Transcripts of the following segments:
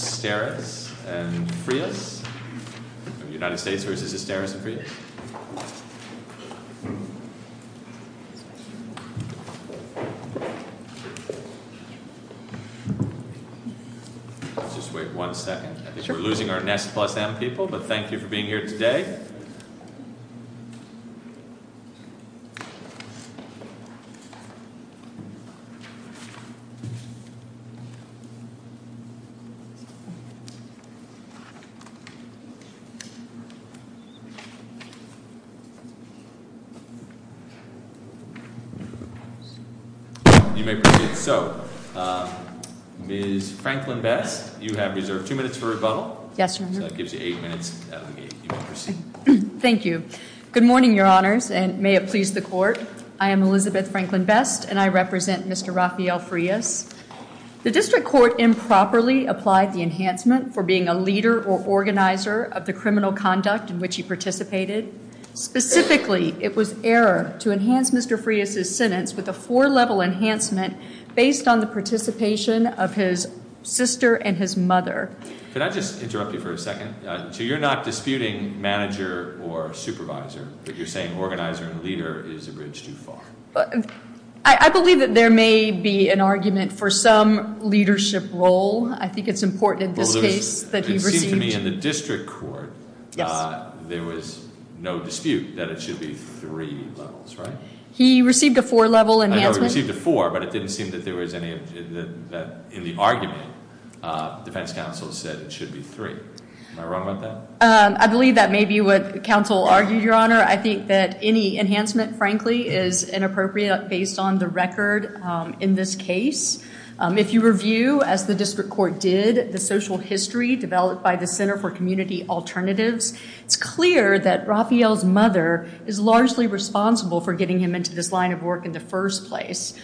Let's just wait one second, I think we're losing our Nestle Plus M people, but thank you for your patience, Ms. Franklin-Best, you have reserved two minutes for rebuttal. Yes, Your Honor. So that gives you eight minutes, you may proceed. Thank you. Good morning, Your Honors, and may it please the Court. I am Elizabeth Franklin-Best, and I represent Mr. Rafael Frias. The District Court improperly applied the enhancement for being a leader or organizer of the criminal conduct in which he participated. Specifically, it was error to enhance Mr. Frias's sentence with a four-level enhancement based on the participation of his sister and his mother. Can I just interrupt you for a second? So you're not disputing manager or supervisor, but you're saying organizer and leader is a bridge too far. I believe that there may be an argument for some leadership role. I think it's important in this case that he received- It seems to me in the District Court, there was no dispute that it should be three levels, right? He received a four-level enhancement. I know he received a four, but it didn't seem that there was any, in the argument, the defense counsel said it should be three. Am I wrong about that? I believe that may be what counsel argued, Your Honor. Your Honor, I think that any enhancement, frankly, is inappropriate based on the record in this case. If you review, as the District Court did, the social history developed by the Center for Community Alternatives, it's clear that Rafael's mother is largely responsible for getting him into this line of work in the first place.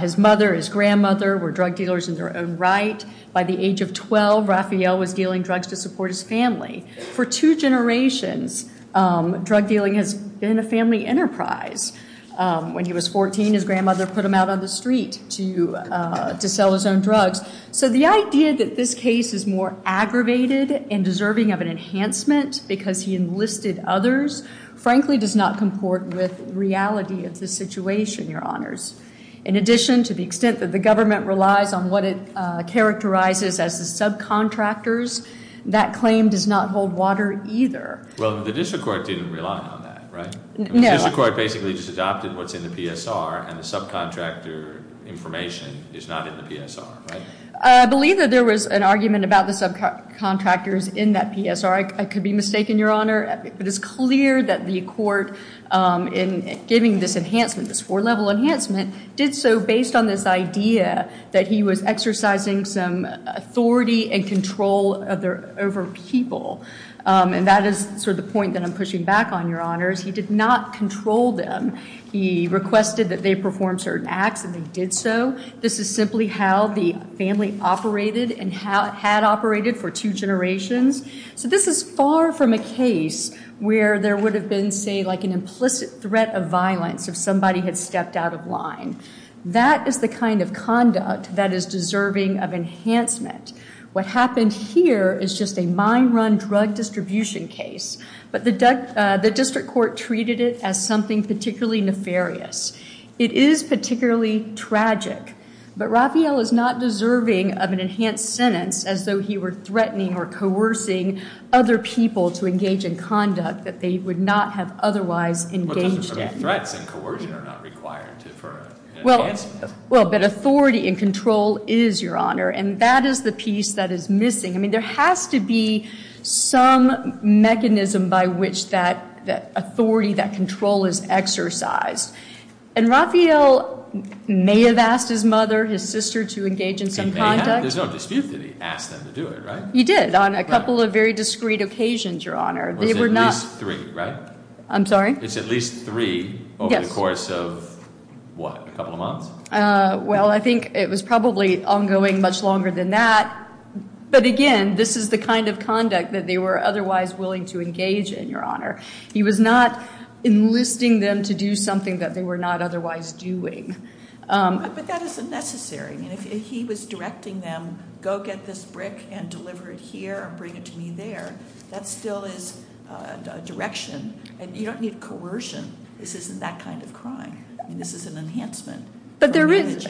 His mother, his grandmother were drug dealers in their own right. By the age of 12, Rafael was dealing drugs to support his family. For two generations, drug dealing has been a family enterprise. When he was 14, his grandmother put him out on the street to sell his own drugs. So the idea that this case is more aggravated and deserving of an enhancement because he enlisted others, frankly, does not comport with reality of the situation, Your Honors. In addition, to the extent that the government relies on what it characterizes as the subcontractors, that claim does not hold water either. Well, the District Court didn't rely on that, right? No. The District Court basically just adopted what's in the PSR, and the subcontractor information is not in the PSR, right? I believe that there was an argument about the subcontractors in that PSR. I could be mistaken, Your Honor. It is clear that the court, in giving this enhancement, this four level enhancement, did so based on this idea that he was exercising some authority and control over people. And that is sort of the point that I'm pushing back on, Your Honors. He did not control them. He requested that they perform certain acts, and they did so. This is simply how the family operated and had operated for two generations. So this is far from a case where there would have been, say, like an implicit threat of violence if somebody had stepped out of line. That is the kind of conduct that is deserving of enhancement. What happened here is just a mine run drug distribution case. But the District Court treated it as something particularly nefarious. It is particularly tragic. But Raphael is not deserving of an enhanced sentence as though he were threatening or coercing other people to engage in conduct that they would not have otherwise engaged in. But threats and coercion are not required for enhancement. Well, but authority and control is, Your Honor. And that is the piece that is missing. I mean, there has to be some mechanism by which that authority, that control is exercised. And Raphael may have asked his mother, his sister, to engage in some conduct. He may have. There's no dispute that he asked them to do it, right? He did, on a couple of very discreet occasions, Your Honor. Was it at least three, right? I'm sorry? It's at least three over the course of, what, a couple of months? Well, I think it was probably ongoing much longer than that. But again, this is the kind of conduct that they were otherwise willing to engage in, Your Honor. He was not enlisting them to do something that they were not otherwise doing. But that isn't necessary. I mean, if he was directing them, go get this brick and deliver it here and bring it to me there, that still is direction. And you don't need coercion. This isn't that kind of crime. I mean, this is an enhancement. But there is,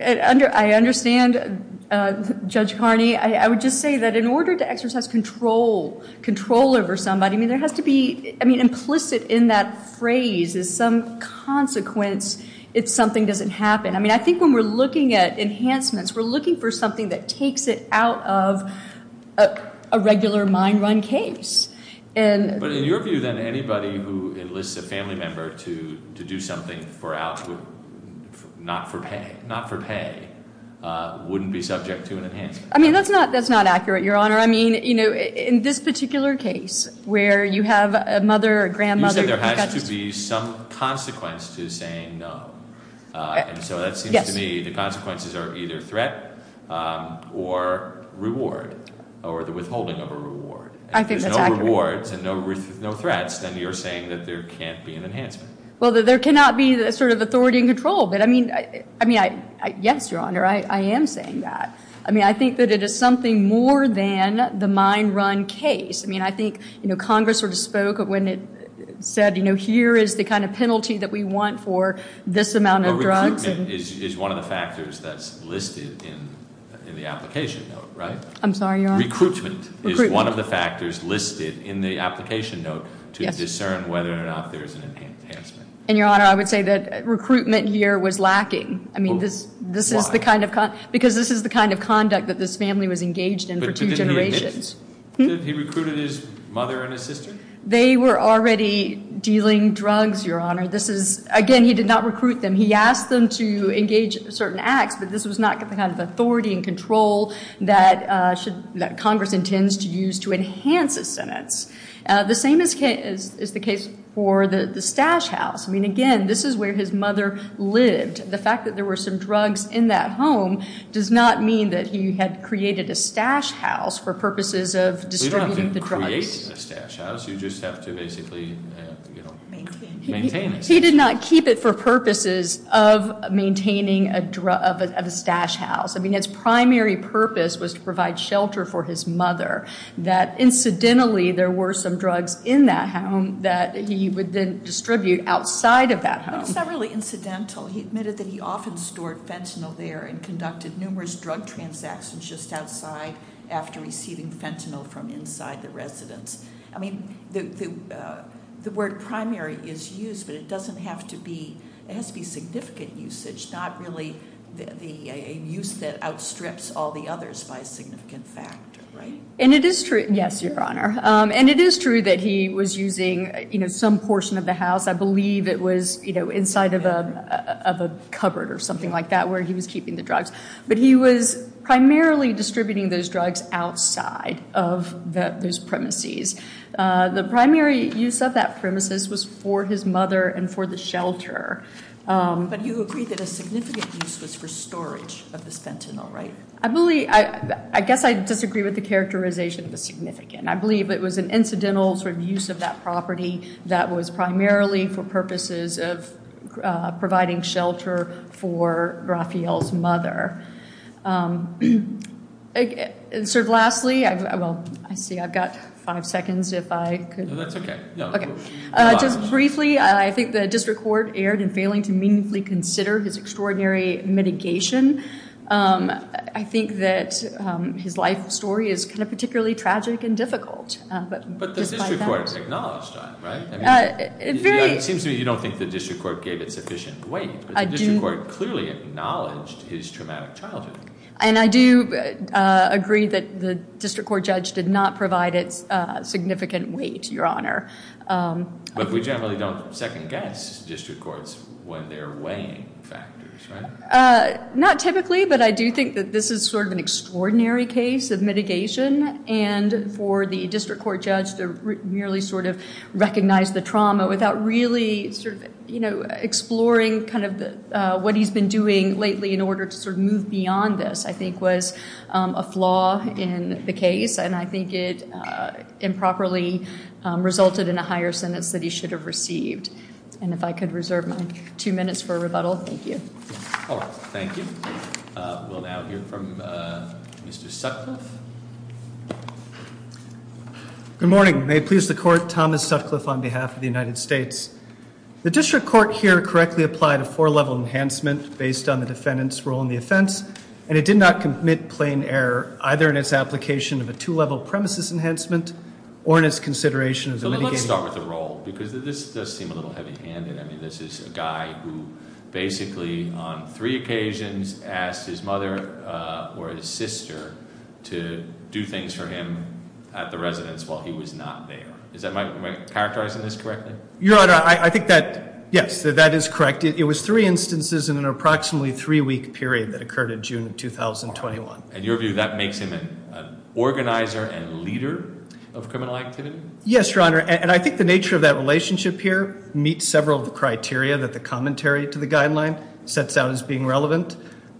I understand, Judge Carney. I would just say that in order to exercise control over somebody, I mean, implicit in that phrase is some consequence if something doesn't happen. I mean, I think when we're looking at enhancements, we're looking for something that takes it out of a regular mine run case. And- But in your view, then, anybody who enlists a family member to do something for out, not for pay, wouldn't be subject to an enhancement. That's not accurate, Your Honor. I mean, in this particular case, where you have a mother, a grandmother- You said there has to be some consequence to saying no. And so that seems to me the consequences are either threat or reward, or the withholding of a reward. I think that's accurate. If there's no rewards and no threats, then you're saying that there can't be an enhancement. Well, there cannot be sort of authority and control. But I mean, yes, Your Honor, I am saying that. I mean, I think that it is something more than the mine run case. I mean, I think Congress sort of spoke when it said, here is the kind of penalty that we want for this amount of drugs. But recruitment is one of the factors that's listed in the application, right? I'm sorry, Your Honor? Recruitment is one of the factors listed in the application note to discern whether or not there's an enhancement. And Your Honor, I would say that recruitment here was lacking. I mean, this is the kind of conduct that this family was engaged in for two generations. Did he recruit his mother and his sister? They were already dealing drugs, Your Honor. This is, again, he did not recruit them. He asked them to engage certain acts, but this was not the kind of authority and control that Congress intends to use to enhance his sentence. The same is the case for the Stash House. I mean, again, this is where his mother lived. The fact that there were some drugs in that home does not mean that he had created a stash house for purposes of distributing the drugs. You don't have to create a stash house, you just have to basically maintain it. He did not keep it for purposes of maintaining a stash house. I mean, its primary purpose was to provide shelter for his mother. That incidentally, there were some drugs in that home that he would then distribute outside of that home. It's not really incidental. He admitted that he often stored fentanyl there and conducted numerous drug transactions just outside after receiving fentanyl from inside the residence. I mean, the word primary is used, but it doesn't have to be, it has to be significant usage, not really the use that outstrips all the others by a significant factor, right? And it is true, yes, Your Honor. And it is true that he was using some portion of the house. I believe it was inside of a cupboard or something like that where he was keeping the drugs. But he was primarily distributing those drugs outside of those premises. The primary use of that premises was for his mother and for the shelter. But you agree that a significant use was for storage of this fentanyl, right? I guess I disagree with the characterization of the significant. I believe it was an incidental sort of use of that property that was primarily for purposes of providing shelter for Raphael's mother. Sir, lastly, well, I see I've got five seconds if I could- No, that's okay. No, go ahead. Just briefly, I think the district court erred in failing to meaningfully consider his extraordinary mitigation. I think that his life story is kind of particularly tragic and difficult. But the district court acknowledged that, right? It seems to me you don't think the district court gave it sufficient weight. The district court clearly acknowledged his traumatic childhood. And I do agree that the district court judge did not provide it significant weight, Your Honor. But we generally don't second guess district courts when they're weighing factors, right? Not typically, but I do think that this is sort of an extraordinary case of mitigation. And for the district court judge to merely sort of recognize the trauma without really exploring what he's been doing lately in order to sort of move beyond this, I think was a flaw in the case. And I think it improperly resulted in a higher sentence that he should have received. And if I could reserve my two minutes for rebuttal, thank you. All right, thank you. We'll now hear from Mr. Sutcliffe. Good morning. May it please the court, Thomas Sutcliffe on behalf of the United States. The district court here correctly applied a four level enhancement based on the defendant's role in the offense. And it did not commit plain error, either in its application of a two level premises enhancement or in its consideration of the mitigating- Let me start with the role, because this does seem a little heavy handed. I mean, this is a guy who basically on three occasions asked his mother or his sister to do things for him at the residence while he was not there. Is that my, am I characterizing this correctly? Your Honor, I think that, yes, that is correct. It was three instances in an approximately three week period that occurred in June of 2021. In your view, that makes him an organizer and leader of criminal activity? Yes, Your Honor, and I think the nature of that relationship here meets several of the criteria that the commentary to the guideline sets out as being relevant.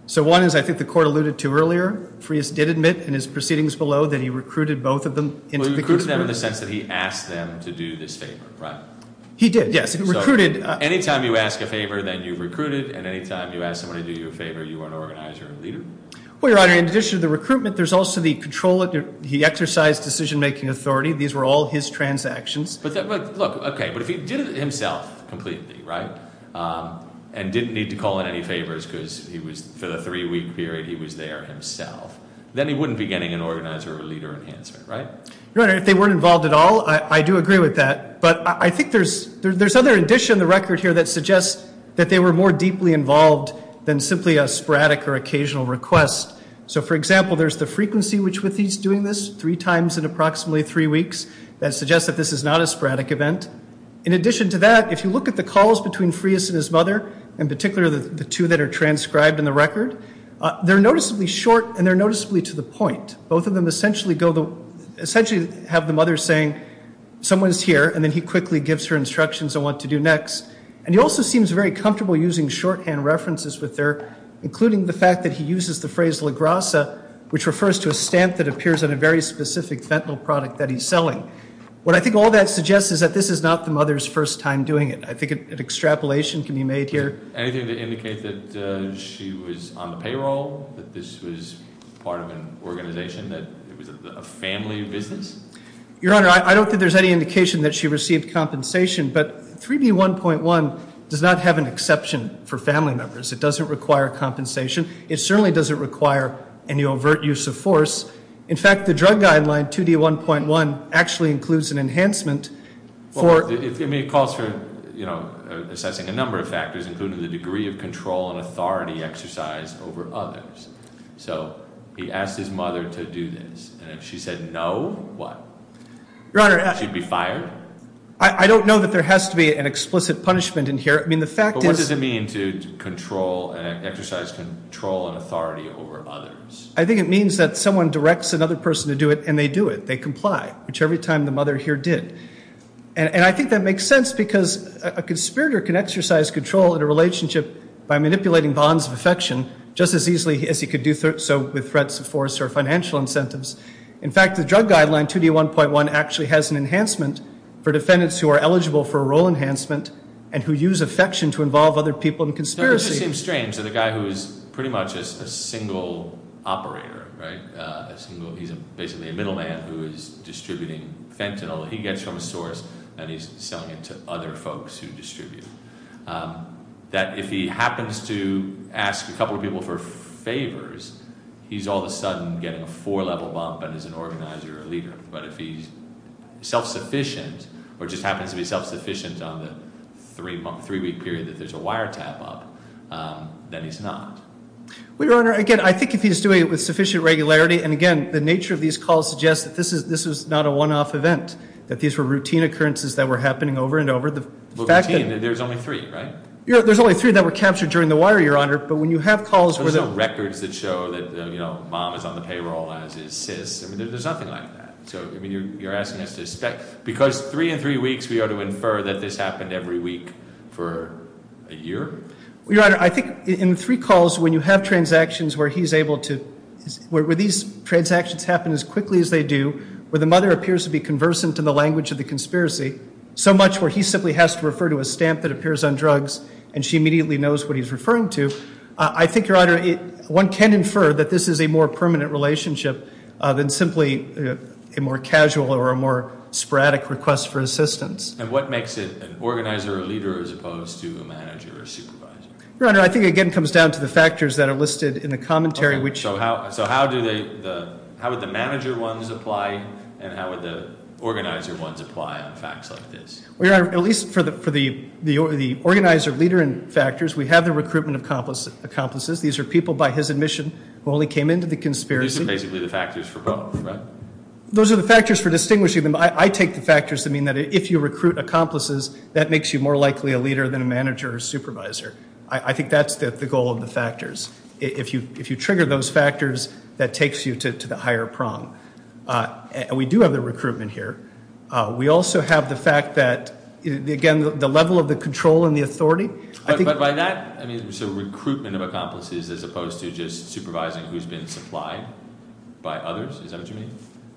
So one is, I think the court alluded to earlier, Frias did admit in his proceedings below that he recruited both of them into the- Well, he recruited them in the sense that he asked them to do this favor, right? He did, yes, he recruited- Any time you ask a favor, then you've recruited, and any time you ask somebody to do you a favor, you are an organizer and leader? Well, Your Honor, in addition to the recruitment, there's also the control, he exercised decision making authority. These were all his transactions. But look, okay, but if he did it himself completely, right, and didn't need to call in any favors because he was, for the three week period, he was there himself. Then he wouldn't be getting an organizer or leader enhancement, right? Your Honor, if they weren't involved at all, I do agree with that. But I think there's other addition in the record here that suggests that they were more deeply involved than simply a sporadic or occasional request. So for example, there's the frequency with which he's doing this, three times in approximately three weeks, that suggests that this is not a sporadic event. In addition to that, if you look at the calls between Frias and his mother, in particular the two that are transcribed in the record, they're noticeably short and they're noticeably to the point. Both of them essentially have the mother saying, someone's here, and then he quickly gives her instructions on what to do next. And he also seems very comfortable using shorthand references with her, including the fact that he uses the phrase Lagrassa, which refers to a stamp that appears on a very specific fentanyl product that he's selling. What I think all that suggests is that this is not the mother's first time doing it. I think an extrapolation can be made here. Anything to indicate that she was on the payroll, that this was part of an organization, that it was a family business? Your Honor, I don't think there's any indication that she received compensation, but 3D1.1 does not have an exception for family members. It doesn't require compensation. It certainly doesn't require any overt use of force. In fact, the drug guideline 2D1.1 actually includes an enhancement for- I mean, it calls for assessing a number of factors, including the degree of control and authority exercised over others. So he asked his mother to do this, and if she said no, what? Your Honor- She'd be fired? I don't know that there has to be an explicit punishment in here. I mean, the fact is- But what does it mean to control and exercise control and authority over others? I think it means that someone directs another person to do it, and they do it. They comply, which every time the mother here did. And I think that makes sense because a conspirator can exercise control in a relationship by manipulating bonds of affection just as easily as he could do so with threats of force or financial incentives. In fact, the drug guideline 2D1.1 actually has an enhancement for defendants who are eligible for a role enhancement and who use affection to involve other people in conspiracy. It just seems strange that a guy who is pretty much a single operator, right? He's basically a middle man who is distributing fentanyl. He gets from a source and he's selling it to other folks who distribute. That if he happens to ask a couple of people for favors, he's all of a sudden getting a four level bump and is an organizer or a leader. But if he's self-sufficient, or just happens to be self-sufficient on the three week period that there's a wire tap up, then he's not. Well, Your Honor, again, I think if he's doing it with sufficient regularity, and again, the nature of these calls suggests that this is not a one-off event. That these were routine occurrences that were happening over and over. Well, routine, there's only three, right? There's only three that were captured during the wire, Your Honor. But when you have calls where the- There's no records that show that mom is on the payroll as is sis. I mean, there's nothing like that. So, I mean, you're asking us to expect, because three in three weeks, we are to infer that this happened every week for a year? Your Honor, I think in three calls, when you have transactions where he's able to, where these transactions happen as quickly as they do, where the mother appears to be conversant to the language of the conspiracy, so much where he simply has to refer to a stamp that appears on drugs, and she immediately knows what he's referring to. I think, Your Honor, one can infer that this is a more permanent relationship than simply a more casual or a more sporadic request for assistance. And what makes it an organizer or leader as opposed to a manager or supervisor? Your Honor, I think it again comes down to the factors that are listed in the commentary, which- So how would the manager ones apply, and how would the organizer ones apply on facts like this? Your Honor, at least for the organizer, leader, and factors, we have the recruitment of accomplices. These are people, by his admission, who only came into the conspiracy. These are basically the factors for both, right? Those are the factors for distinguishing them. I take the factors to mean that if you recruit accomplices, that makes you more likely a leader than a manager or supervisor. I think that's the goal of the factors. If you trigger those factors, that takes you to the higher prong. We do have the recruitment here. We also have the fact that, again, the level of the control and the authority. I think- But by that, I mean, so recruitment of accomplices as opposed to just supervising who's been supplied by others? Is that what you mean?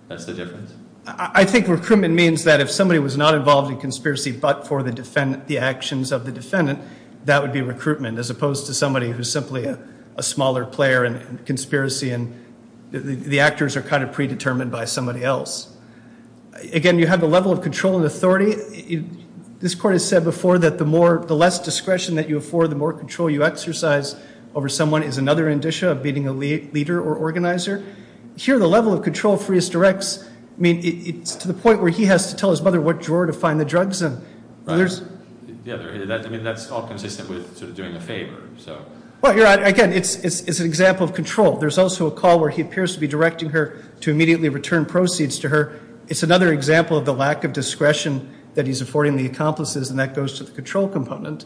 That's the difference? I think recruitment means that if somebody was not involved in conspiracy but for the actions of the defendant, that would be recruitment as opposed to somebody who's simply a smaller player in a conspiracy, and the actors are kind of predetermined by somebody else. Again, you have the level of control and authority. This court has said before that the less discretion that you afford, the more control you exercise over someone is another indicia of being a leader or organizer. Here, the level of control Freest directs, I mean, it's to the point where he has to tell his mother what drawer to find the drugs in. There's- Yeah, I mean, that's all consistent with sort of doing a favor, so. Well, again, it's an example of control. There's also a call where he appears to be directing her to immediately return proceeds to her. It's another example of the lack of discretion that he's affording the accomplices, and that goes to the control component.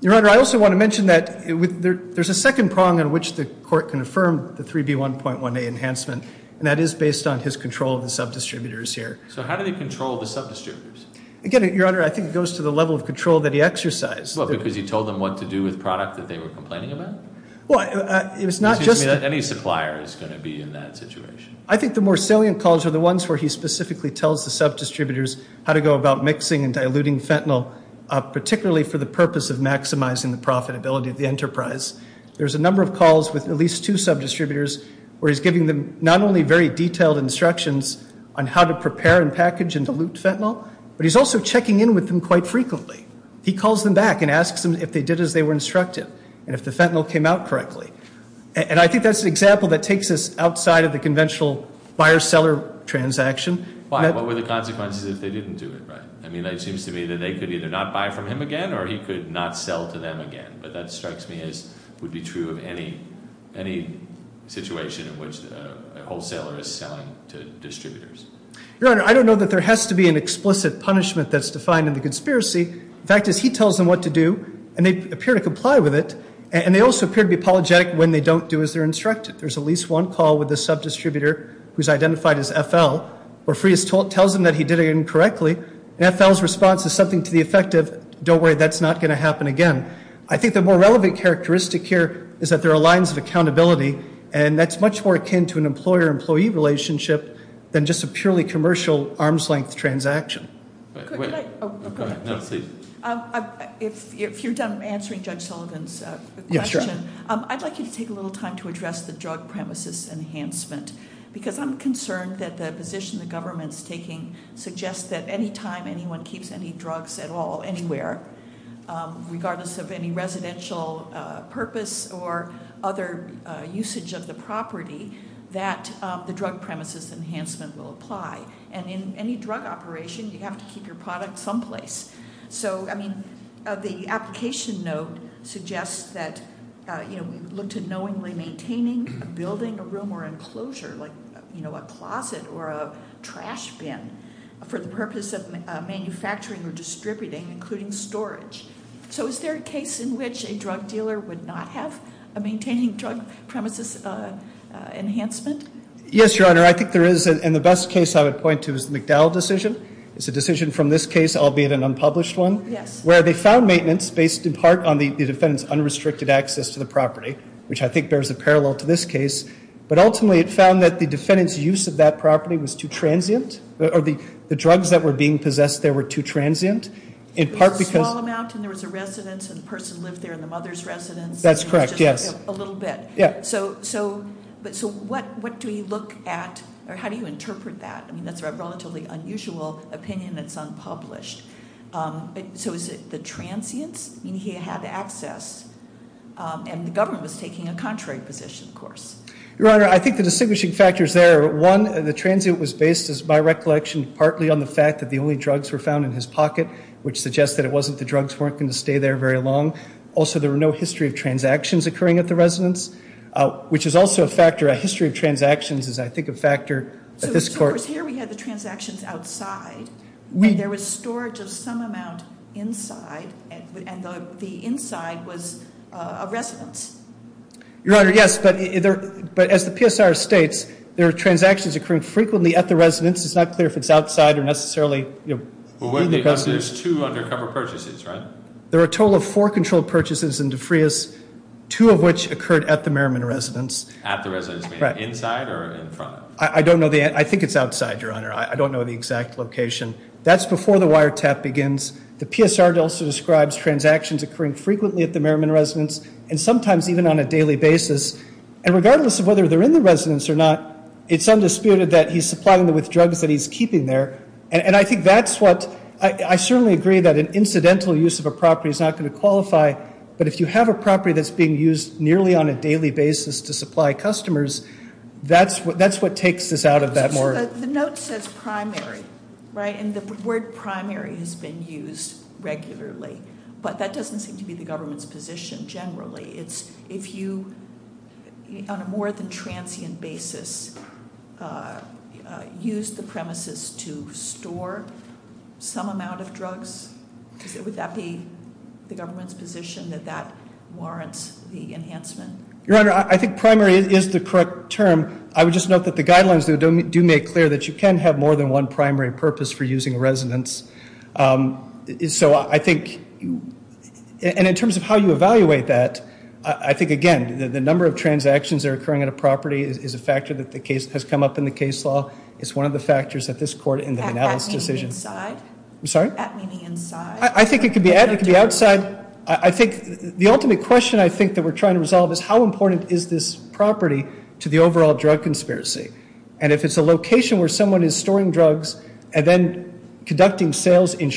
Your Honor, I also want to mention that there's a second prong on which the court can affirm the 3B1.1A enhancement, and that is based on his control of the sub-distributors here. So how do they control the sub-distributors? Again, Your Honor, I think it goes to the level of control that he exercised. What, because he told them what to do with product that they were complaining about? Well, it was not just- Any supplier is going to be in that situation. I think the more salient calls are the ones where he specifically tells the sub-distributors how to go about mixing and diluting fentanyl, particularly for the purpose of maximizing the profitability of the enterprise. There's a number of calls with at least two sub-distributors where he's giving them not only very detailed instructions on how to prepare and package and dilute fentanyl, but he's also checking in with them quite frequently. He calls them back and asks them if they did as they were instructed, and if the fentanyl came out correctly. And I think that's an example that takes us outside of the conventional buyer-seller transaction. Why? What were the consequences if they didn't do it, right? I mean, it seems to me that they could either not buy from him again, or he could not sell to them again. But that strikes me as would be true of any situation in which a wholesaler is selling to distributors. Your Honor, I don't know that there has to be an explicit punishment that's defined in the conspiracy. The fact is, he tells them what to do, and they appear to comply with it. And they also appear to be apologetic when they don't do as they're instructed. There's at least one call with the sub-distributor who's identified as FL, where Frias tells him that he did it incorrectly. And FL's response is something to the effect of, don't worry, that's not going to happen again. I think the more relevant characteristic here is that there are lines of accountability. And that's much more akin to an employer-employee relationship than just a purely commercial arm's length transaction. Could I? Go ahead, no, please. If you're done answering Judge Sullivan's question, I'd like you to take a little time to address the drug premises enhancement. Because I'm concerned that the position the government's taking suggests that any time anyone keeps any drugs at all, anywhere, regardless of any residential purpose or other usage of the property, that the drug premises enhancement will apply. And in any drug operation, you have to keep your product someplace. So, I mean, the application note suggests that we look to knowingly maintaining a building, a room, or enclosure, like a closet or a trash bin. For the purpose of manufacturing or distributing, including storage. So is there a case in which a drug dealer would not have a maintaining drug premises enhancement? Yes, Your Honor, I think there is, and the best case I would point to is the McDowell decision. It's a decision from this case, albeit an unpublished one. Yes. Where they found maintenance based in part on the defendant's unrestricted access to the property, which I think bears a parallel to this case. But ultimately it found that the defendant's use of that property was too transient, or the drugs that were being possessed there were too transient. In part because- A small amount, and there was a residence, and the person lived there in the mother's residence. That's correct, yes. A little bit. Yeah. So what do you look at, or how do you interpret that? I mean, that's a relatively unusual opinion that's unpublished. So is it the transients? I mean, he had access, and the government was taking a contrary position, of course. Your Honor, I think the distinguishing factors there are, one, the transient was based, as my recollection, partly on the fact that the only drugs were found in his pocket, which suggests that it wasn't the drugs weren't going to stay there very long. Also, there were no history of transactions occurring at the residence, which is also a factor. A history of transactions is, I think, a factor that this court- There was coverage of some amount inside, and the inside was a residence. Your Honor, yes, but as the PSR states, there are transactions occurring frequently at the residence. It's not clear if it's outside or necessarily in the residence. Well, wouldn't it be because there's two undercover purchases, right? There are a total of four controlled purchases in Defrius, two of which occurred at the Merriman residence. At the residence, meaning inside or in front? I don't know the, I think it's outside, Your Honor. I don't know the exact location. That's before the wiretap begins. The PSR also describes transactions occurring frequently at the Merriman residence, and sometimes even on a daily basis. And regardless of whether they're in the residence or not, it's undisputed that he's supplying them with drugs that he's keeping there. And I think that's what, I certainly agree that an incidental use of a property is not going to qualify. But if you have a property that's being used nearly on a daily basis to supply customers, that's what takes this out of that more- The note says primary, right? And the word primary has been used regularly. But that doesn't seem to be the government's position generally. It's if you, on a more than transient basis, use the premises to store some amount of drugs. Would that be the government's position that that warrants the enhancement? Your Honor, I think primary is the correct term. I would just note that the guidelines do make clear that you can have more than one primary purpose for using a residence. So I think, and in terms of how you evaluate that, I think again, the number of transactions that are occurring at a property is a factor that the case has come up in the case law. It's one of the factors that this court in the Manalis decision- At meaning inside? I'm sorry? At meaning inside? I think it could be at, it could be outside. So I think the ultimate question I think that we're trying to resolve is how important is this property to the overall drug conspiracy? And if it's a location where someone is storing drugs and then conducting sales in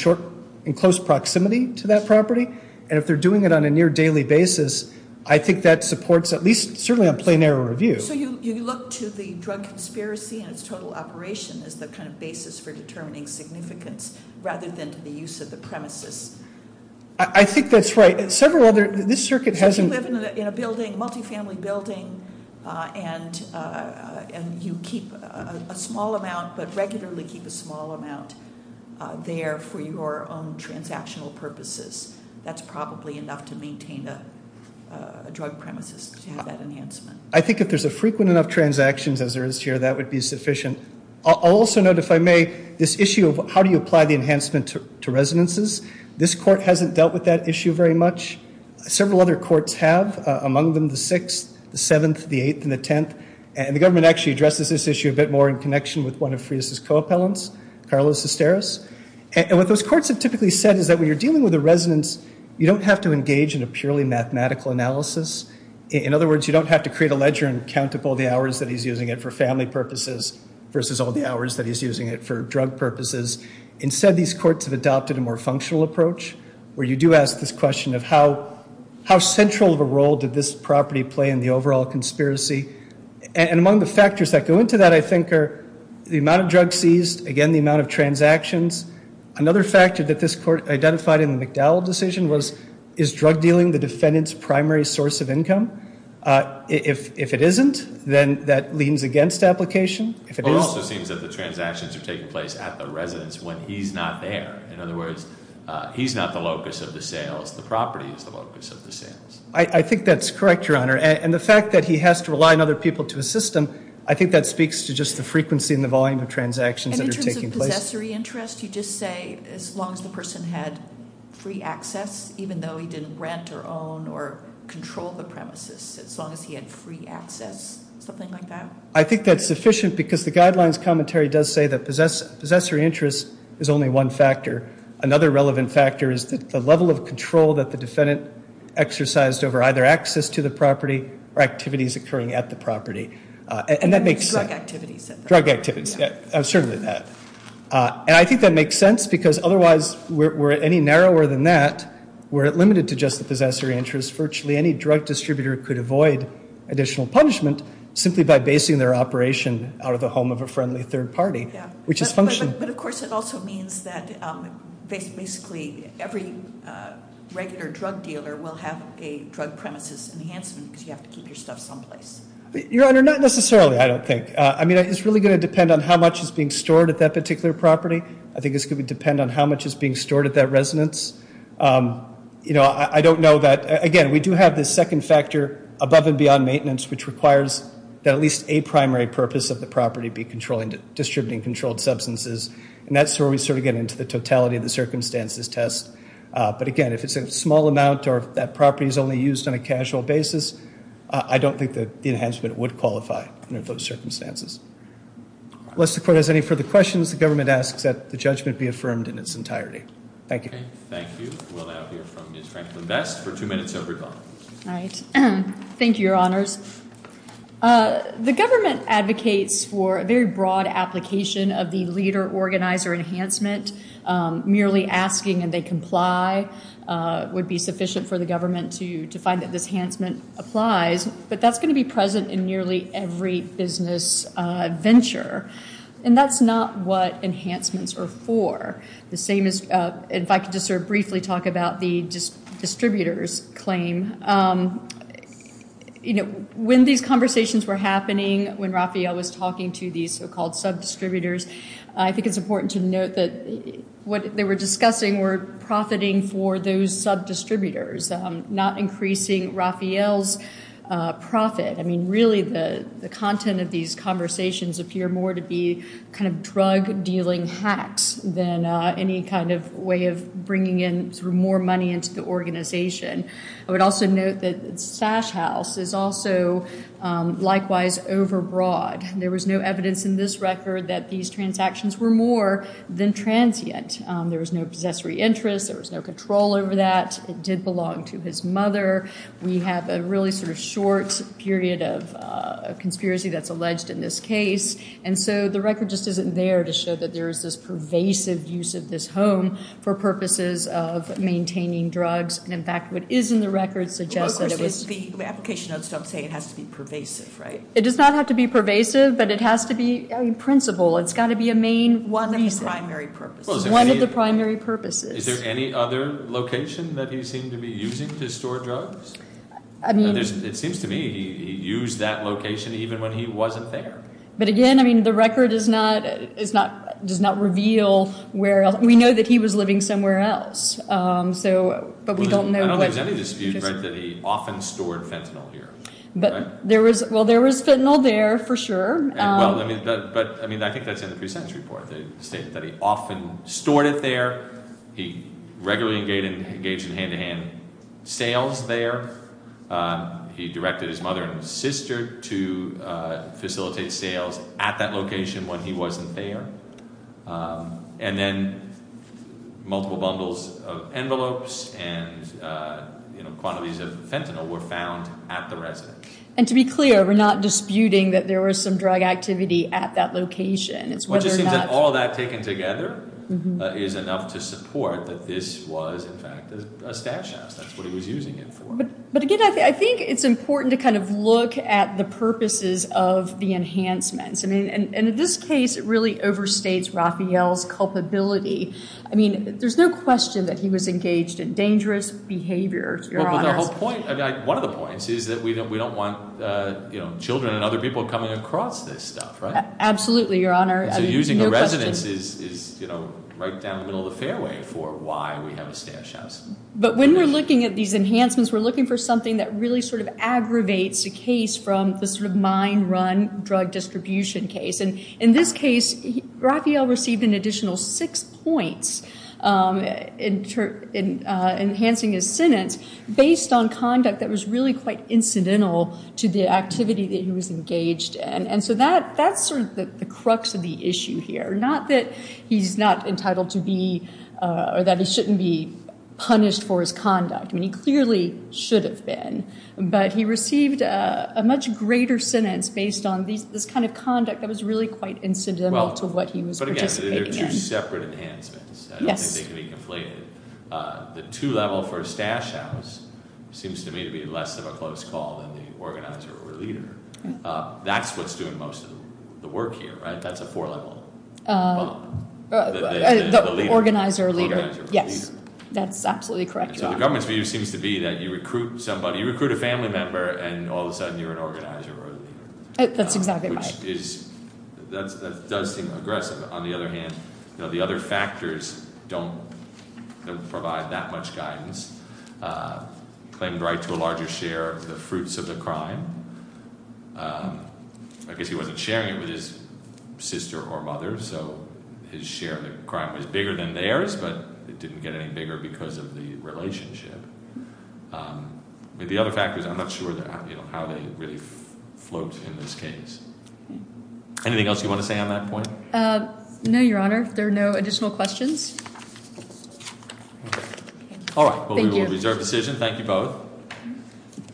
close proximity to that property, and if they're doing it on a near daily basis, I think that supports, at least certainly on plain error review. So you look to the drug conspiracy and its total operation as the kind of basis for determining significance rather than to the use of the premises? I think that's right. Several other, this circuit hasn't- So if you live in a building, multifamily building, and you keep a small amount, but regularly keep a small amount there for your own transactional purposes. That's probably enough to maintain a drug premises to have that enhancement. I think if there's a frequent enough transactions as there is here, that would be sufficient. I'll also note, if I may, this issue of how do you apply the enhancement to residences? This court hasn't dealt with that issue very much. Several other courts have, among them the sixth, the seventh, the eighth, and the tenth. And the government actually addresses this issue a bit more in connection with one of Frias' co-appellants, Carlos Esteros. And what those courts have typically said is that when you're dealing with a residence, you don't have to engage in a purely mathematical analysis. In other words, you don't have to create a ledger and count up all the hours that he's using it for family purposes versus all the hours that he's using it for drug purposes. Instead, these courts have adopted a more functional approach, where you do ask this question of how central of a role did this property play in the overall conspiracy? And among the factors that go into that, I think, are the amount of drugs seized, again, the amount of transactions. Another factor that this court identified in the McDowell decision was, is drug dealing the defendant's primary source of income? If it isn't, then that leans against application. If it is- It also seems that the transactions are taking place at the residence when he's not there. In other words, he's not the locus of the sales, the property is the locus of the sales. I think that's correct, Your Honor. And the fact that he has to rely on other people to assist him, I think that speaks to just the frequency and the volume of transactions that are taking place. Possessory interest, you just say, as long as the person had free access, even though he didn't rent or own or control the premises, as long as he had free access, something like that? I think that's sufficient, because the guidelines commentary does say that possessory interest is only one factor. Another relevant factor is the level of control that the defendant exercised over either access to the property or activities occurring at the property. And that makes sense. Drug activities. Drug activities. Certainly that. And I think that makes sense, because otherwise, were it any narrower than that, were it limited to just the possessory interest, virtually any drug distributor could avoid additional punishment simply by basing their operation out of the home of a friendly third party, which is function- But of course, it also means that basically every regular drug dealer will have a drug premises enhancement, because you have to keep your stuff someplace. Your Honor, not necessarily, I don't think. I mean, it's really going to depend on how much is being stored at that particular property. I think it's going to depend on how much is being stored at that residence. I don't know that, again, we do have this second factor above and beyond maintenance, which requires that at least a primary purpose of the property be distributing controlled substances. And that's where we sort of get into the totality of the circumstances test. But again, if it's a small amount or if that property is only used on a casual basis, I don't think that the enhancement would qualify under those circumstances. Unless the court has any further questions, the government asks that the judgment be affirmed in its entirety. Thank you. Thank you. We'll now hear from Ms. Franklin Best for two minutes every month. All right. Thank you, Your Honors. The government advocates for a very broad application of the leader-organizer enhancement. Merely asking and they comply would be sufficient for the government to find that this enhancement applies. But that's going to be present in nearly every business venture. And that's not what enhancements are for. The same is, if I could just sort of briefly talk about the distributors claim. When these conversations were happening, when Raphael was talking to these so-called sub-distributors, I think it's important to note that what they were discussing were profiting for those sub-distributors. Not increasing Raphael's profit. I mean, really the content of these conversations appear more to be kind of drug-dealing hacks than any kind of way of bringing in more money into the organization. I would also note that Sash House is also likewise overbroad. There was no evidence in this record that these transactions were more than transient. There was no possessory interest, there was no control over that. It did belong to his mother. We have a really sort of short period of conspiracy that's alleged in this case. And so the record just isn't there to show that there is this pervasive use of this home for purposes of maintaining drugs. And in fact, what is in the record suggests that it was- The application notes don't say it has to be pervasive, right? It does not have to be pervasive, but it has to be in principle. It's gotta be a main reason. One of the primary purposes. One of the primary purposes. Is there any other location that he seemed to be using to store drugs? I mean- It seems to me he used that location even when he wasn't there. But again, I mean, the record does not reveal where else. We know that he was living somewhere else, so, but we don't know what- I don't think there's any dispute, right, that he often stored fentanyl here. But there was, well, there was fentanyl there for sure. Well, but I mean, I think that's in the pre-sentence report. They state that he often stored it there. He regularly engaged in hand-to-hand sales there. He directed his mother and sister to facilitate sales at that location when he wasn't there. And then multiple bundles of envelopes and quantities of fentanyl were found at the residence. And to be clear, we're not disputing that there was some drug activity at that location. It's whether or not- It just seems that all that taken together is enough to support that this was, in fact, a stash house. That's what he was using it for. But again, I think it's important to kind of look at the purposes of the enhancements. And in this case, it really overstates Raphael's culpability. I mean, there's no question that he was engaged in dangerous behavior, Your Honor. Well, but the whole point, one of the points is that we don't want children and other people coming across this stuff, right? Absolutely, Your Honor. So using a residence is right down the middle of the fairway for why we have a stash house. But when we're looking at these enhancements, we're looking for something that really sort of aggravates the case from the sort of mind-run drug distribution case. And in this case, Raphael received an additional six points enhancing his sentence based on conduct that was really quite incidental to the activity that he was engaged in. And so that's sort of the crux of the issue here. Not that he's not entitled to be or that he shouldn't be punished for his conduct. I mean, he clearly should have been. But he received a much greater sentence based on this kind of conduct that was really quite incidental to what he was participating in. But again, they're two separate enhancements. Yes. I don't think they can be conflated. The two level for a stash house seems to me to be less of a close call than the organizer or leader. That's what's doing most of the work here, right? That's a four level bond. The organizer or leader. Yes. That's absolutely correct, Your Honor. And so the government's view seems to be that you recruit somebody, you recruit a family member, and all of a sudden you're an organizer or a leader. That's exactly right. Which is, that does seem aggressive. On the other hand, the other factors don't provide that much guidance. Claimed right to a larger share of the fruits of the crime. I guess he wasn't sharing it with his sister or mother, so his share of the crime was bigger than theirs, but it didn't get any bigger because of the relationship. But the other factors, I'm not sure how they really float in this case. Anything else you want to say on that point? No, Your Honor. There are no additional questions. All right. Well, we will reserve decision. Thank you both.